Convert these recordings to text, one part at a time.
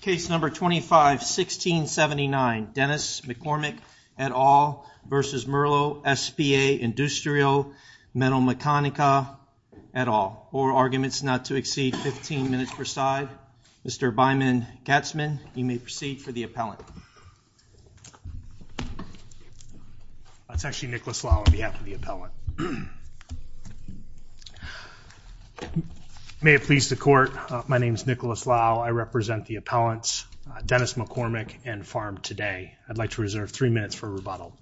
Case number 25 1679 Dennis McCormick et al. versus Merlo SpA Industria Metal Mechanica et al. Four arguments not to exceed 15 minutes per side. Mr. Byman-Katzmann, you may proceed for the appellant. That's actually Nicholas Lau on behalf of the appellant. May it please the court, my name is Nicholas Lau. I represent the appellants, Dennis McCormick and Farm Today. I'd like to reserve three minutes for rebuttal.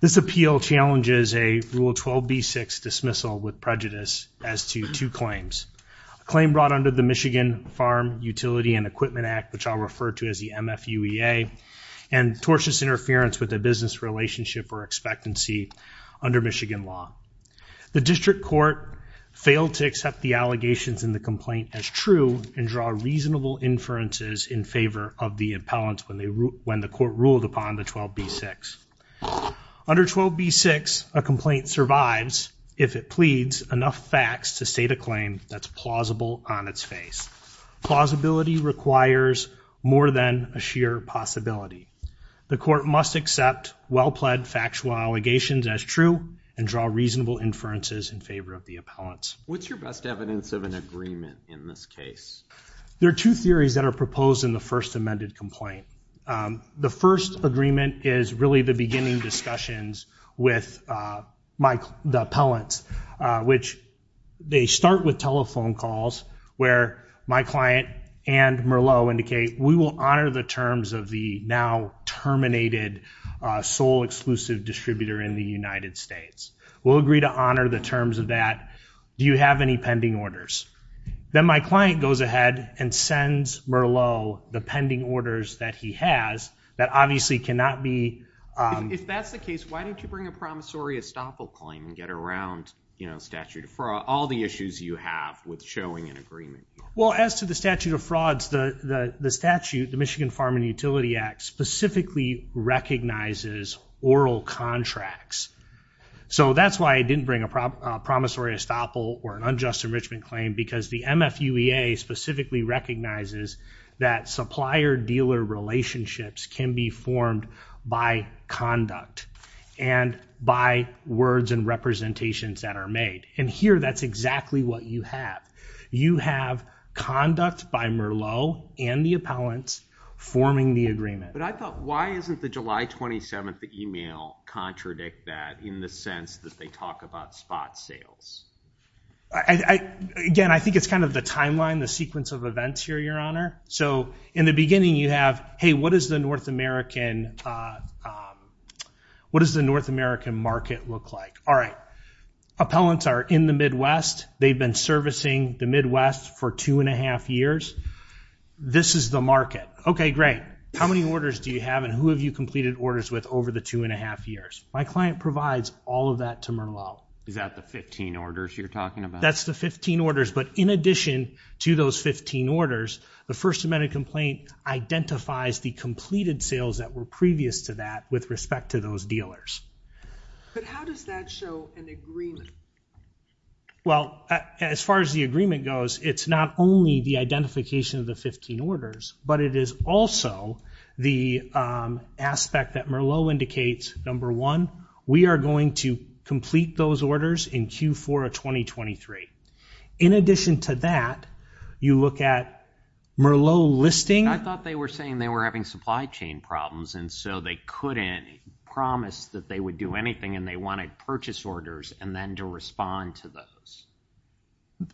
This appeal challenges a Rule 12b6 dismissal with prejudice as to two claims. A claim brought under the Michigan Farm Utility and Equipment Act, which I'll refer to as the MFUEA, and tortious interference with a business relationship or expectancy under Michigan law. The district court failed to accept the allegations in the complaint as true and draw reasonable inferences in favor of the appellants when the court ruled upon the 12b6. Under 12b6, a complaint survives if it pleads enough facts to state a claim that's plausible on its face. Plausibility requires more than a sheer possibility. The court must accept well-pledged factual allegations as true and draw reasonable inferences in favor of the appellants. What's your best evidence of an agreement in this case? There are two theories that are proposed in the first amended complaint. The first agreement is really the beginning discussions with the appellants, which they start with telephone calls where my client and Merlot indicate we will honor the terms of the now terminated sole exclusive distributor in the United States. We'll agree to honor the terms of that. Do you have any pending orders? Then my client goes ahead and sends Merlot the pending orders that he has that obviously cannot be... If that's the case, why don't you bring a promissory estoppel claim and get around, you know, statute of fraud, all the issues you have with showing an agreement? Well, as to the statute of frauds, the statute, the Farm and Utility Act specifically recognizes oral contracts. So that's why I didn't bring a promissory estoppel or an unjust enrichment claim because the MFUEA specifically recognizes that supplier-dealer relationships can be formed by conduct and by words and representations that are made. And here that's exactly what you have. You have conduct by Merlot and the appellants forming the agreement. But I thought, why isn't the July 27th email contradict that in the sense that they talk about spot sales? Again, I think it's kind of the timeline, the sequence of events here, Your Honor. So in the beginning you have, hey, what is the North American, what does the North American market look like? All right, appellants are in the Midwest. They've been servicing the Midwest for two and a half years. This is the market. Okay, great. How many orders do you have and who have you completed orders with over the two and a half years? My client provides all of that to Merlot. Is that the 15 orders you're talking about? That's the 15 orders. But in addition to those 15 orders, the First Amendment complaint identifies the completed sales that were previous to that with respect to those dealers. But how does that show an agreement? Well, as far as the agreement goes, it's not only the identification of the 15 orders, but it is also the aspect that Merlot indicates, number one, we are going to complete those orders in Q4 of 2023. In addition to that, you look at Merlot listing. I thought they were saying they were having supply chain problems and so they couldn't promise that they would do anything and they wanted purchase orders and then to respond to those.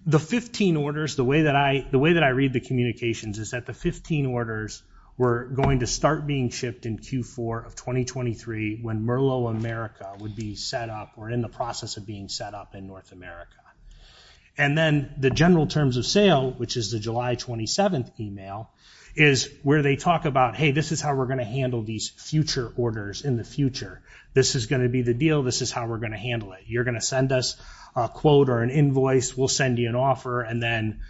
The 15 orders, the way that I read the communications is that the 15 orders were going to start being shipped in Q4 of 2023 when Merlot America would be set up or in the process of being set up in North America. And then the general terms of sale, which is the July 27th email, is where they talk about, hey, this is how we're going to handle these future orders in the future. This is going to be the deal. This is how we're going to handle it. You're going to send us a quote or an invoice. We'll send you an offer and then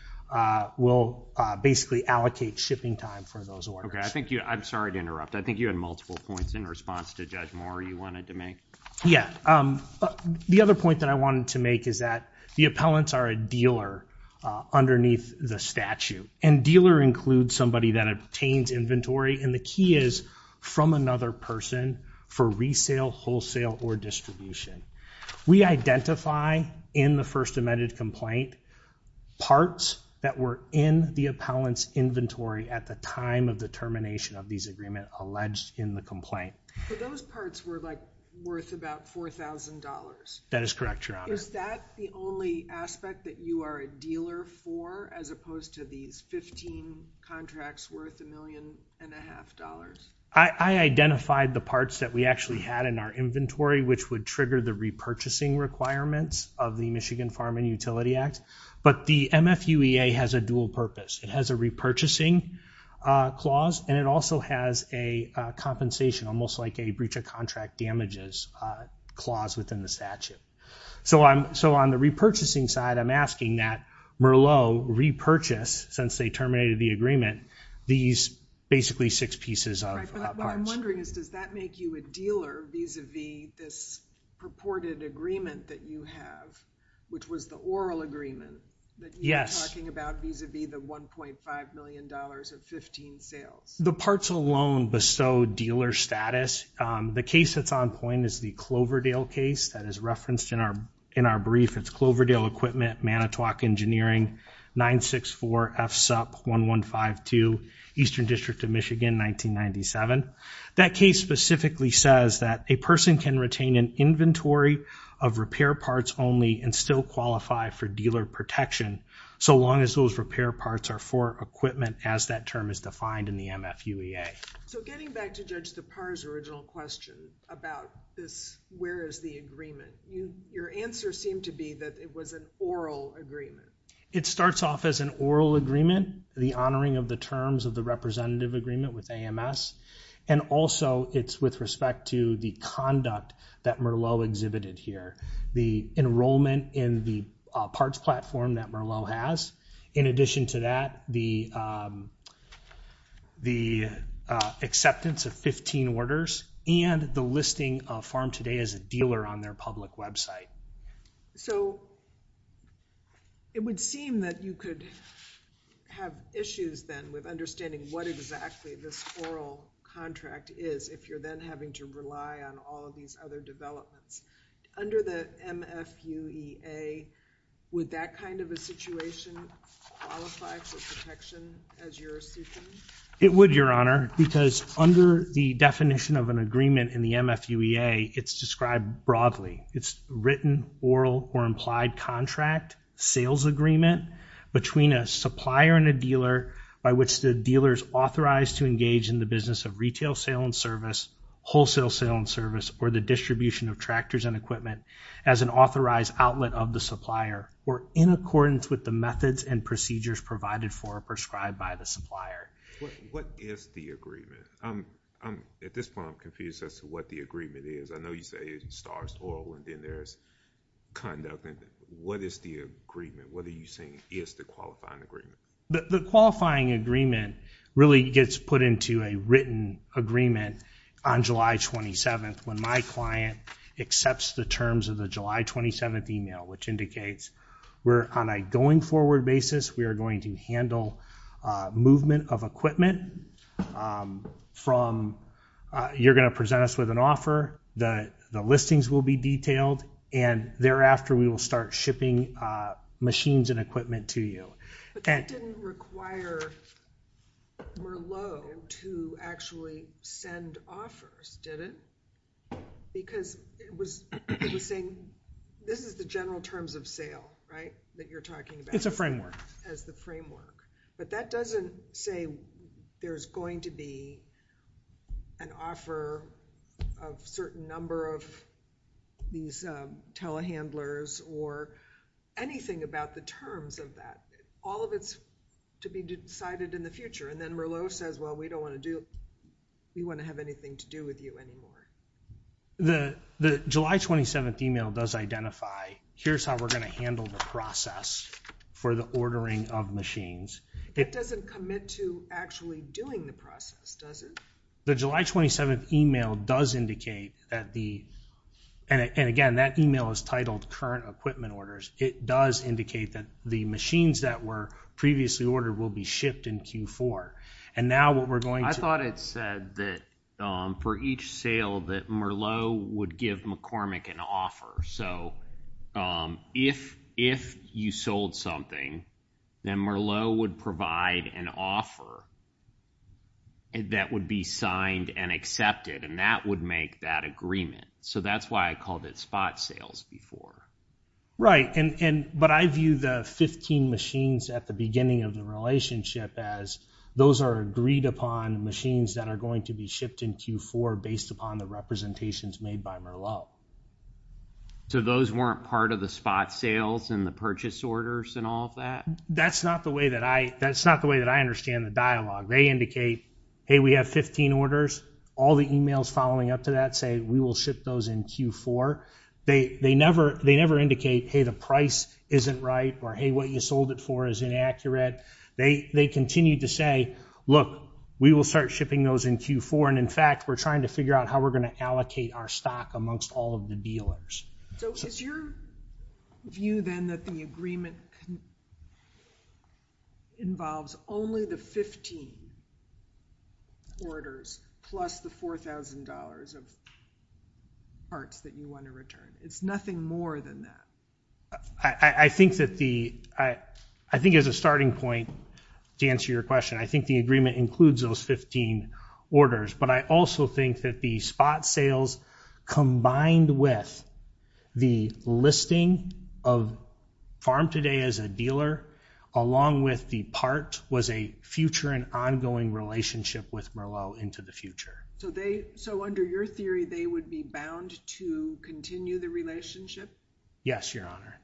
we'll basically allocate shipping time for those orders. Okay, I think you, I'm sorry to interrupt, I think you had multiple points in response to Judge Moore you wanted to make. Yeah, the other point that I wanted to make is that the appellants are a dealer underneath the statute and dealer includes somebody that obtains inventory and the key is from another person for resale, wholesale, or distribution. We identify in the first amended complaint parts that were in the appellants inventory at the time of the termination of these agreement alleged in the complaint. Those parts were like worth about $4,000. That is correct, your honor. Is that the only aspect that you are a dealer for as opposed to these 15 contracts worth a million and a half dollars? I identified the parts that we actually had in our inventory which would trigger the repurchasing requirements of the Michigan Farm and Utility Act but the MFUEA has a dual purpose. It has a repurchasing clause and it also has a compensation almost like a breach of contract damages clause within the statute. So I'm, so on the repurchasing side I'm asking that Merlot repurchase since they terminated the agreement these basically six pieces of parts. What I'm wondering is does that make you a dealer vis-a-vis this purported agreement that you have which was the oral agreement? Yes. That you were talking about vis-a-vis the 1.5 million dollars of 15 sales? The parts alone bestowed dealer status. The case that's on point is the Cloverdale case that is referenced in our in our brief it's Cloverdale Equipment Manitowoc Engineering 964 FSUP 1152 Eastern District of Michigan 1997. That case specifically says that a person can retain an inventory of repair parts only and still qualify for dealer protection so long as those repair parts are for equipment as that term is defined in the MFUEA. So getting back to Judge Tappar's original question about this where is the agreement you your answer seemed to be that it was an oral agreement. It starts off as an oral agreement the honoring of the terms of the representative agreement with AMS and also it's with respect to the conduct that Merlot exhibited here. The enrollment in the parts platform that Merlot has in addition to that the the acceptance of 15 orders and the listing of farm today as a dealer on their public website. So it would seem that you could have issues then with understanding what exactly this oral contract is if you're then having to rely on all of these other developments under the MFUEA would that kind of a situation qualify for protection as your assumption? It would your honor because under the definition of an agreement in the MFUEA it's described broadly it's written oral or implied contract sales agreement between a supplier and a dealer by which the dealers authorized to engage in the business of retail sale and service wholesale sale and service or the distribution of tractors and equipment as an authorized outlet of the supplier or in accordance with the methods and procedures provided for prescribed by the supplier. What is the agreement? I'm at this point confused as to what the agreement is. I know you say it starts oral and then there's conduct and what is the agreement? What are you saying is the qualifying agreement? The qualifying agreement really gets put into a written agreement on July 27th when my client accepts the terms of the July 27th email which indicates we're on a going forward basis we are going to handle movement of equipment from you're going to present us with an offer the the listings will be detailed and thereafter we will start shipping machines and equipment to you. But that didn't require Merlot to actually send offers did it? Because it was saying this is the general terms of sale right that you're talking about. It's a framework. As the framework but that doesn't say there's going to be an offer of certain number of these telehandlers or anything about the terms of that. All of it's to be decided in the future and then Merlot says well we don't want to do we want to have anything to do with you anymore. The the July 27th email does identify here's how we're going to handle the process for the ordering of machines. It doesn't commit to actually doing the process does it? The July 27th email does indicate that the and again that email is titled current equipment orders it does indicate that the machines that were previously ordered will be shipped in Q4 and now what we're going to... I thought it said that for each sale that Merlot would give McCormick an offer so if if you sold something then Merlot would provide an offer that would be signed and accepted and that would make that agreement so that's why I called it spot sales before. Right and but I view the 15 machines at the beginning of the relationship as those are agreed upon machines that are going to be shipped in Q4 based upon the representations made by Merlot. So those weren't part of the spot sales and the purchase orders and all of that? That's not the way that I that's not the way that I understand the dialogue. They indicate hey we have 15 orders all the emails following up to that say we will ship those in Q4. They never they never indicate hey the price isn't right or hey what you sold it for is inaccurate they they continue to say look we will start shipping those in Q4 and in fact we're trying to figure out how we're going to allocate our stock amongst all of the dealers. So is your view then that the agreement involves only the 15 orders plus the $4,000 of parts that you want to return? It's nothing more than that. I think that the I I think as a starting point to answer your question I think the agreement includes those 15 orders but I also think that the spot sales combined with the listing of Farm Today as a dealer along with the part was a future and ongoing relationship with Merlot into the future. So they so under your theory they would be bound to continue the relationship? Yes your honor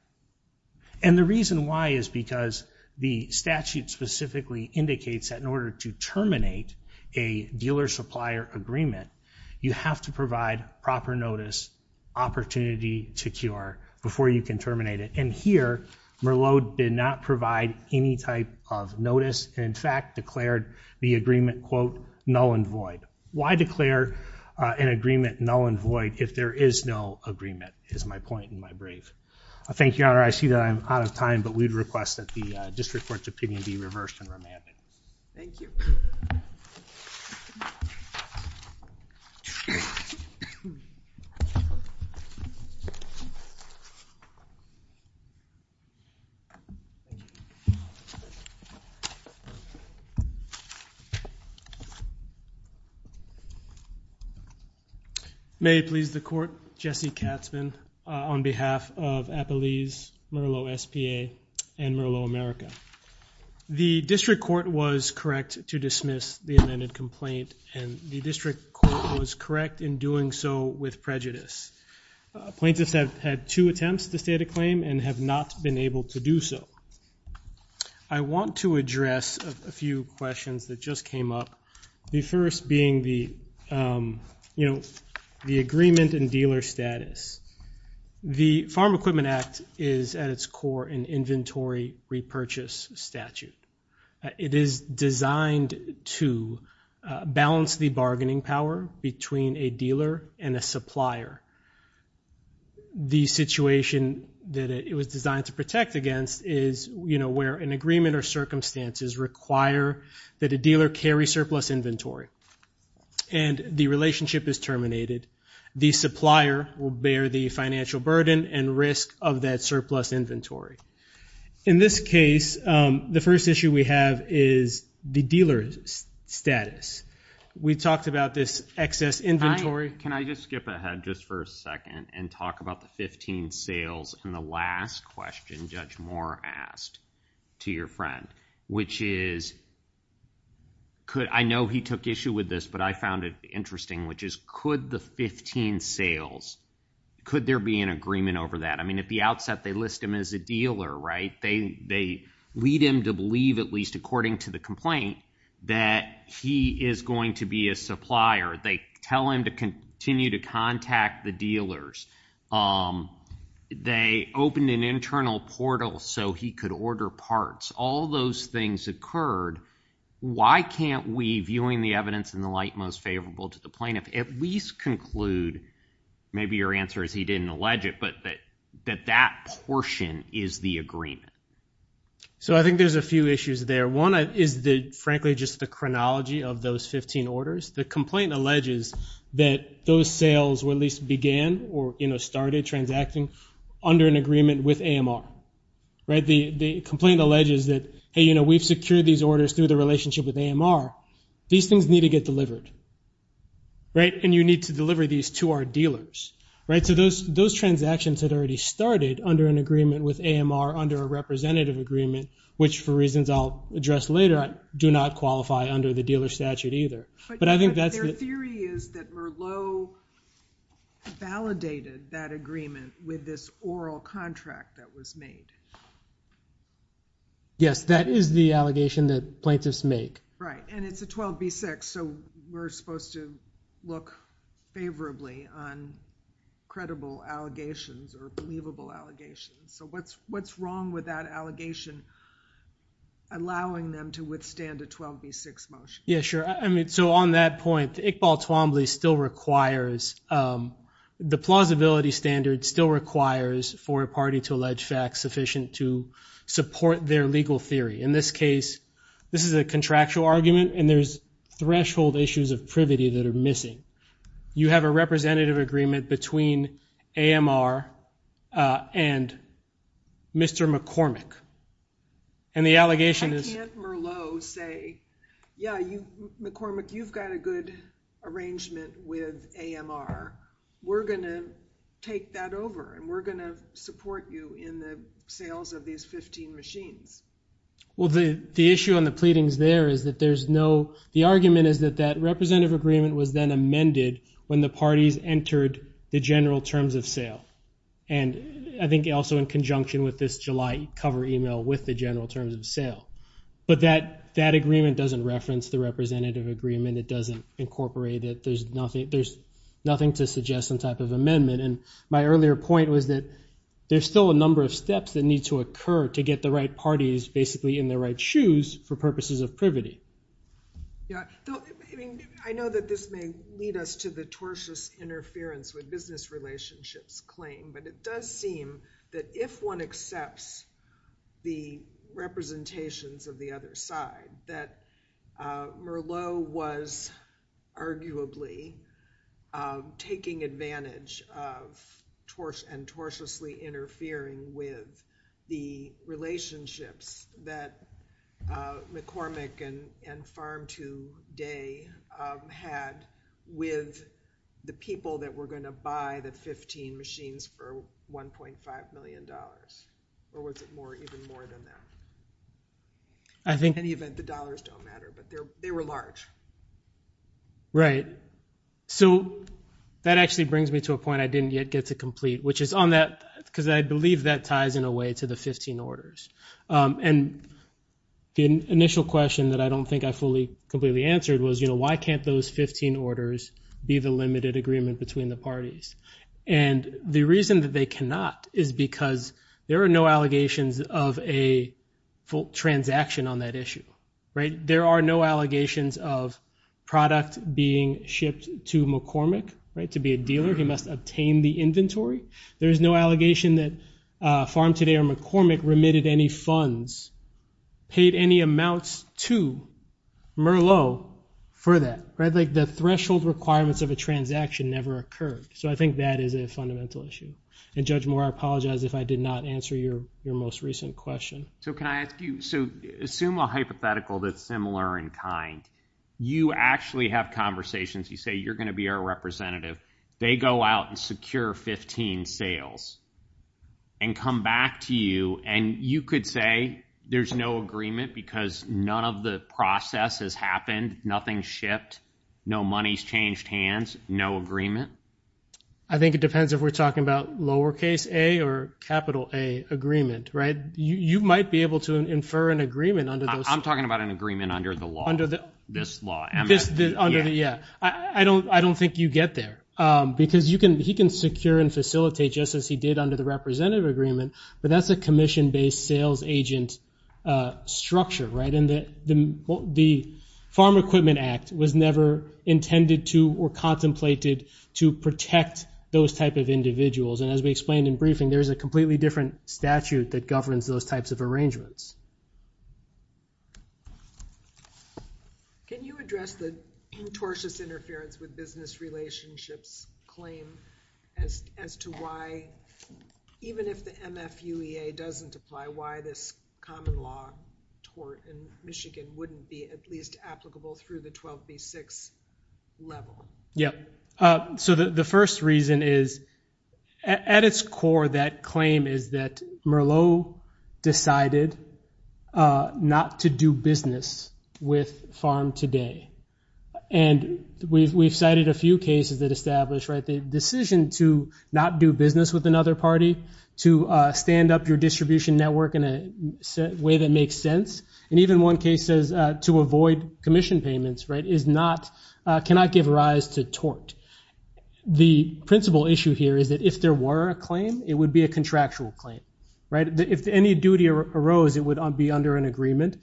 and the reason why is because the statute specifically indicates that in order to terminate a dealer supplier agreement you have to provide proper notice opportunity to cure before you can terminate it and here Merlot did not provide any type of notice in fact declared the agreement quote null and void. Why declare an agreement null and void if there is no agreement is my point in my brief. I thank your honor I see that I'm out of time but we'd request that the district court's opinion be reversed and remanded. May please the court Jesse Katzmann on behalf of Appalese Merlot SPA and Merlot America. The district court was correct to dismiss the amended complaint and the district court was correct in doing so with prejudice. Plaintiffs have had two attempts to state a claim and have not been able to do so. I want to address a few questions that just came up. The first being the you know the agreement and dealer status. The Farm Equipment Act is at its core an inventory repurchase statute. It is designed to balance the bargaining power between a dealer and a supplier. The situation that it was designed to protect against is you know where an agreement or circumstances require that a dealer carry surplus inventory and the relationship is terminated. The supplier will bear the financial burden and risk of that surplus inventory. In this case the first issue we have is the dealer's status. We talked about this excess inventory. Can I just skip ahead just for a second and talk about the 15 sales and the last question Judge Moore asked to your friend which is could I know he took issue with this but I found it interesting which is could the 15 sales could there be an agreement over that I mean at the outset they list him as a dealer right they they lead him to believe at least according to the complaint that he is going to be a supplier. They tell him to continue to contact the dealers. They opened an internal portal so he could order parts. All those things occurred. Why can't we viewing the evidence in the light most favorable to the plaintiff at least conclude maybe your answer is he didn't allege it but that that that portion is the agreement. So I think there's a few issues there. One is the frankly just the chronology of those 15 orders. The sales were at least began or you know started transacting under an agreement with AMR. The complaint alleges that hey you know we've secured these orders through the relationship with AMR. These things need to get delivered right and you need to deliver these to our dealers right so those those transactions had already started under an agreement with AMR under a representative agreement which for reasons I'll address later I do not under the dealer statute either but I think that's the theory is that Merlot validated that agreement with this oral contract that was made. Yes that is the allegation that plaintiffs make. Right and it's a 12b6 so we're supposed to look favorably on credible allegations or believable allegations so what's wrong with that allegation allowing them to withstand a 12b6 motion? Yeah sure I mean so on that point Iqbal Twombly still requires the plausibility standard still requires for a party to allege facts sufficient to support their legal theory. In this case this is a contractual argument and there's threshold issues of privity that are missing. You have a representative agreement between AMR and Mr. McCormick and the allegation is... I can't Merlot say yeah you McCormick you've got a good arrangement with AMR we're gonna take that over and we're gonna support you in the sales of these 15 machines. Well the the issue on the pleadings there is that there's no the argument is that that representative agreement was then amended when the parties entered the general terms of sale and I think also in conjunction with this July cover email with the general terms of sale but that that agreement doesn't reference the representative agreement it doesn't incorporate it there's nothing there's nothing to suggest some type of amendment and my earlier point was that there's still a number of steps that need to occur to get the right parties basically in the right shoes for purposes of privity. Yeah I know that this may lead us to the tortious interference with business relationships claim but it does seem that if one accepts the representations of the other side that Merlot was arguably taking advantage of and tortuously interfering with the relationships that McCormick and and Farm 2 Day had with the people that were going to buy the 15 machines for 1.5 million dollars or was it more even more than that? I think in any event the dollars don't matter but they were large. Right so that actually brings me to a point that I didn't yet get to complete which is on that because I believe that ties in a way to the 15 orders and the initial question that I don't think I fully completely answered was you know why can't those 15 orders be the limited agreement between the parties and the reason that they cannot is because there are no allegations of a full transaction on that issue right there are no allegations of product being shipped to McCormick right to be a dealer he must obtain the inventory there is no allegation that Farm 2 Day or McCormick remitted any funds paid any amounts to Merlot for that right like the threshold requirements of a transaction never occurred so I think that is a fundamental issue and Judge Moore I apologize if I did not answer your your most recent question. So can I ask you so assume a hypothetical that's similar in kind you actually have conversations you say you're going to be our representative they go out and secure 15 sales and come back to you and you could say there's no agreement because none of the process has happened nothing shipped no money's changed hands no agreement. I think it depends if we're talking about lowercase a or capital A agreement right you you might be able to infer an agreement under those. I'm talking about an agreement under the law this law yeah I don't I don't think you get there because you can he can secure and facilitate just as he did under the representative agreement but that's a commission-based sales agent structure right and that the Farm Equipment Act was never intended to or contemplated to protect those type of individuals and as we explained in briefing there's a completely different statute that governs those types of arrangements. Can you address the tortious interference with business relationships claim as as to why even if the MFUEA doesn't apply why this common law tort in Michigan wouldn't be at least applicable through the 12 v 6 level? Yep so the first reason is at its core that claim is that Merlot decided not to do business with farm today and we've cited a few cases that established right the decision to not do business with another party to stand up your distribution network in a way that makes sense and even one case says to avoid commission payments right is not cannot give rise to tort the principal issue here is that if there were a claim it would be a contractual claim right if any duty arose it would be under an agreement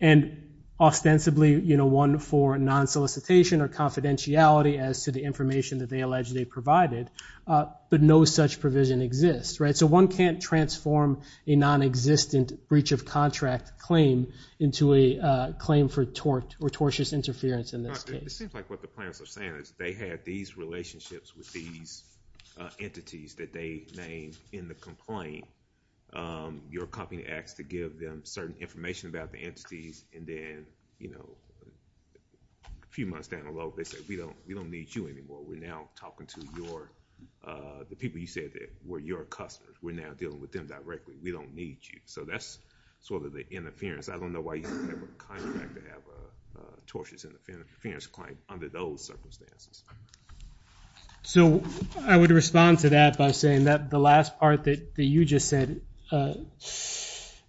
and ostensibly you know one for non solicitation or confidentiality as to the information that they allege they provided but no such provision exists right so one can't transform a non-existent breach of contract claim into a claim for tort or tortuous interference in this case they had these relationships with these entities that they named in the complaint you're copying X to give them certain information about the entities and then you know a few months down the road they said we don't we don't need you anymore we're now talking to your the people you were your customers we're now dealing with them directly we don't need you so that's sort of the interference I don't know why you never contact to have a tortious interference client under those circumstances so I would respond to that by saying that the last part that you just said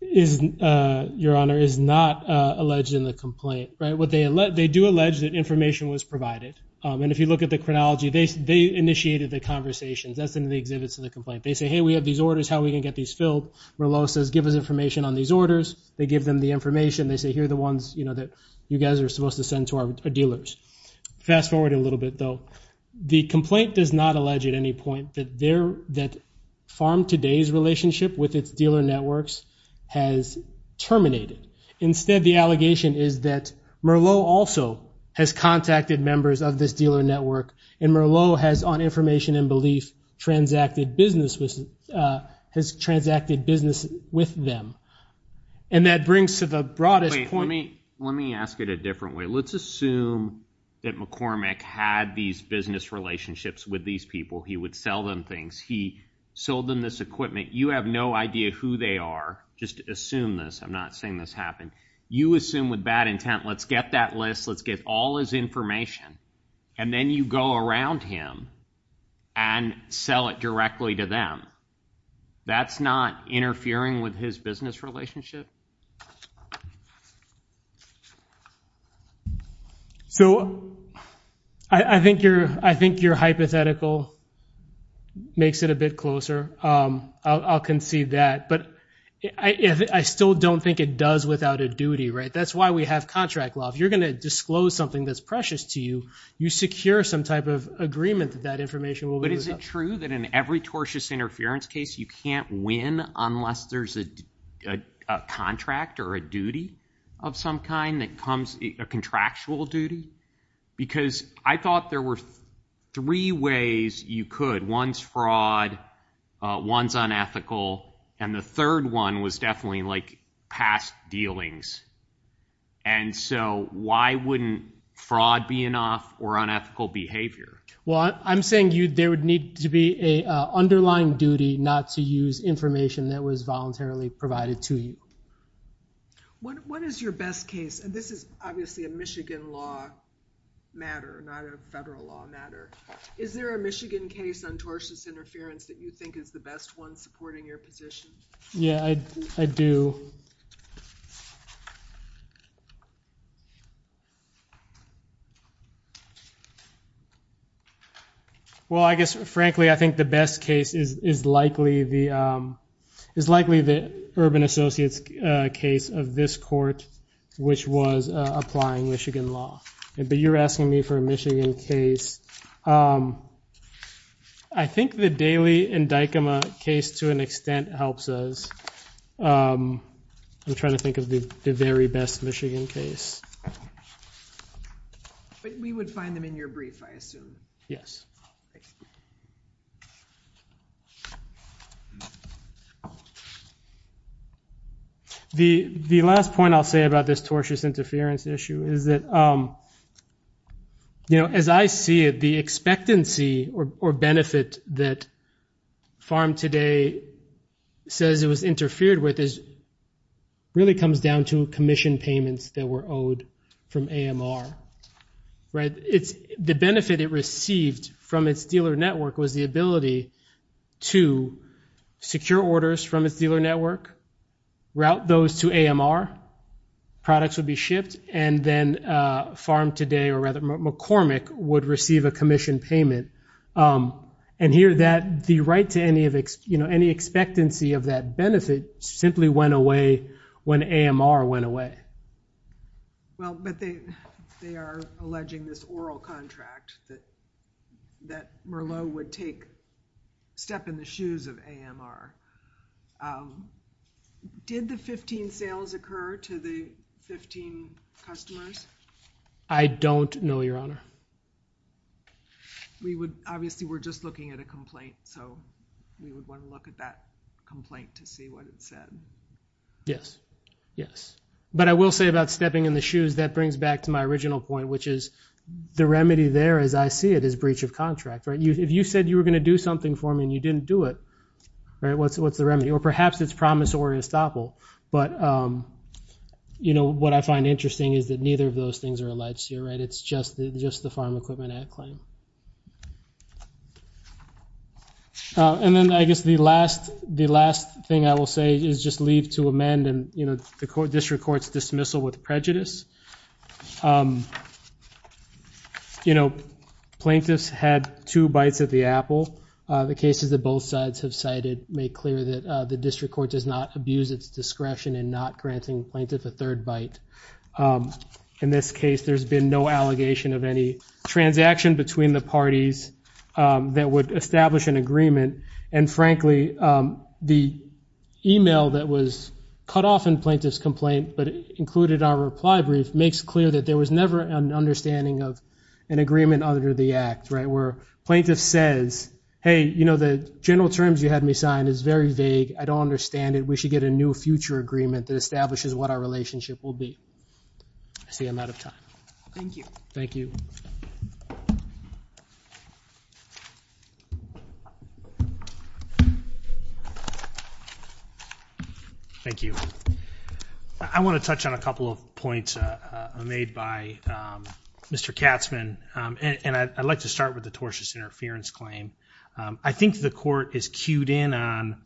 is your honor is not alleged in the complaint right what they let they do allege that information was provided and if you look at the chronology they initiated the conversations that's in the exhibits of the complaint they say hey we have these orders how we can get these filled Merlot says give us information on these orders they give them the information they say here the ones you know that you guys are supposed to send to our dealers fast forward a little bit though the complaint does not allege at any point that there that farm today's relationship with its dealer networks has terminated instead the allegation is that Merlot also has contacted members of this dealer network and Merlot has on information and belief transacted business was has transacted business with them and that brings to the broadest point let me let me ask it a different way let's assume that McCormick had these business relationships with these people he would sell them things he sold them this equipment you have no idea who they are just assume this I'm not saying this happened you assume with bad intent let's get that list let's get all his information and then you go around him and sell it directly to them that's not interfering with his business relationship so I think you're I think you're hypothetical makes it a bit closer I'll concede that but I still don't think it does without a duty right that's why we have contract law if you're going to disclose something that's precious to you you secure some type of agreement that that information will but is it true that in every tortious interference case you can't win unless there's a contract or a duty of some kind that comes a contractual duty because I thought there were three ways you could one's fraud one's unethical and the third one was definitely like past dealings and so why wouldn't fraud be enough or unethical behavior well I'm saying you there would need to be a underlying duty not to use information that was voluntarily provided to you what is your best case and this is obviously a Michigan law matter not a federal law matter is there a Michigan case on tortuous interference that you think is the best one supporting your yeah I do well I guess frankly I think the best case is is likely the is likely the Urban Associates case of this court which was applying Michigan law but you're asking me for a Michigan case I think the Daley and Dykema case to an extent helps us I'm trying to think of the very best Michigan case but we would find them in your brief I assume yes the the last point I'll say about this tortious interference issue is that you know as I see it the expectancy or benefit that farm today says it was interfered with is really comes down to Commission payments that were owed from AMR right it's the benefit it received from its dealer network was the ability to secure orders from its dealer network route those to AMR products would be and then farm today or rather McCormick would receive a commission payment and here that the right to any of its you know any expectancy of that benefit simply went away when AMR went away well but they they are alleging this oral contract that that Merlot would take step in the shoes of AMR did the 15 sales occur to the 15 customers I don't know your honor we would obviously we're just looking at a complaint so we would want to look at that complaint to see what it said yes yes but I will say about stepping in the shoes that brings back to my original point which is the remedy there as I see it is breach of contract right you if you said you were gonna do something for me and you didn't do it all right what's what's the remedy or perhaps it's promise or unstoppable but you know what I find interesting is that neither of those things are alleged here right it's just just the farm equipment at claim and then I guess the last the last thing I will say is just leave to amend and you know the court district courts dismissal with prejudice you know plaintiffs had two bites of the apple the cases that both sides have cited make clear that the district court does not abuse its discretion and not granting plaintiff a third bite in this case there's been no allegation of any transaction between the parties that would establish an agreement and frankly the email that was cut off in plaintiffs complaint but included our reply brief makes clear that there was never an understanding of an agreement under the act right where plaintiff says hey you know the general terms you had me signed is very vague I don't understand it we should get a new future agreement that establishes what our relationship will be I see I'm out of time thank you thank you thank you I want to touch on a couple of points made by mr. Katzman and I'd like to start with the tortious interference claim I think the court is queued in on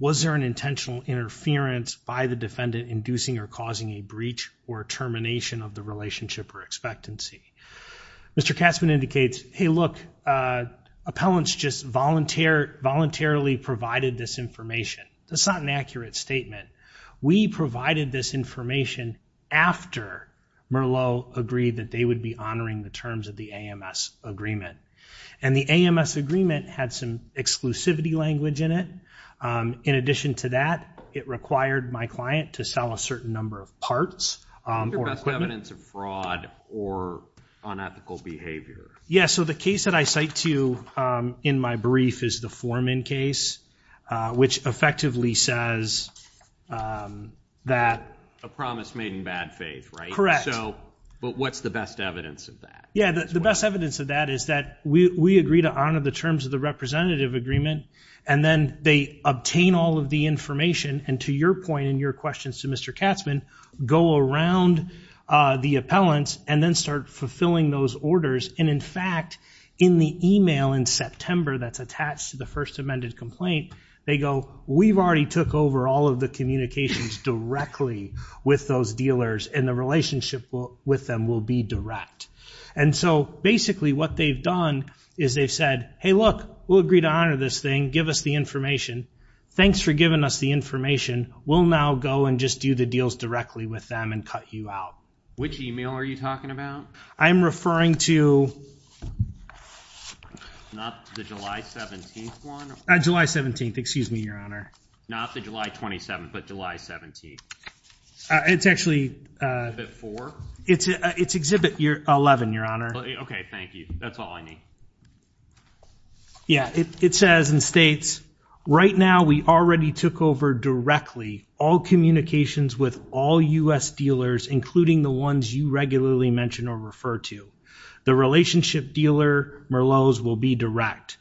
was there an intentional interference by the defendant inducing or causing a breach or termination of the relationship or expectancy mr. Katzman indicates hey look appellants just volunteer voluntarily provided this information that's not an accurate statement we provided this information after Merlot agreed that they would be honoring the terms of the AMS agreement and the AMS agreement had some exclusivity language in it in addition to that it required my client to sell a certain number of parts evidence of fraud or unethical behavior yes so the case that I cite to you in my brief is the foreman case which effectively says that a promise made in bad faith right correct so but what's the best evidence of that yeah the best evidence of that is that we agree to honor the terms of the representative agreement and then they obtain all of the information and to your point in your questions to mr. Katzman go around the appellants and then start fulfilling those orders and in fact in the email in September that's attached to the first amended complaint they go we've already took over all of the communications directly with those dealers in the relationship with them will be direct and so basically what they've done is they've said hey look we'll agree to honor this thing give us the information thanks for giving us the information we'll now go and just do the deals directly with them and cut you out which email are you talking about I'm referring to July 17th excuse me your honor not the July 27th but July 17th it's actually it's it's exhibit year 11 your honor okay thank you that's all I need yeah it says and states right now we already took over directly all communications with all u.s. dealers including the ones you regularly mention or refer to the relationship dealer Merlot's will be direct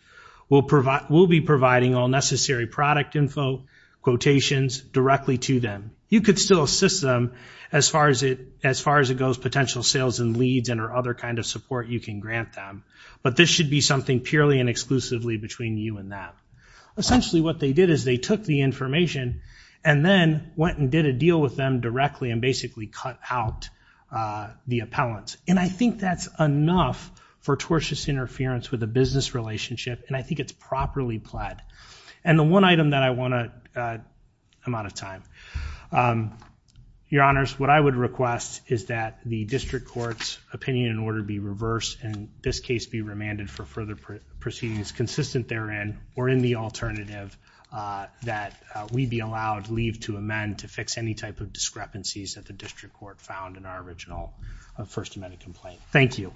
will provide will be providing all necessary product info quotations directly to them you could still assist them as far as it as far as it goes potential sales and leads and or other kind of support you can grant them but this should be something purely and exclusively between you and that essentially what they did is they took the information and then went and did a deal with them directly and basically cut out the appellant and I think that's enough for tortious interference with a business relationship and I think it's properly pled and the one item that I want to I'm out of time your honors what I would request is that the district courts opinion in order to be reversed and this case be remanded for further proceedings consistent therein or in the that we be allowed leave to amend to fix any type of discrepancies that the district court found in our original First Amendment complaint thank you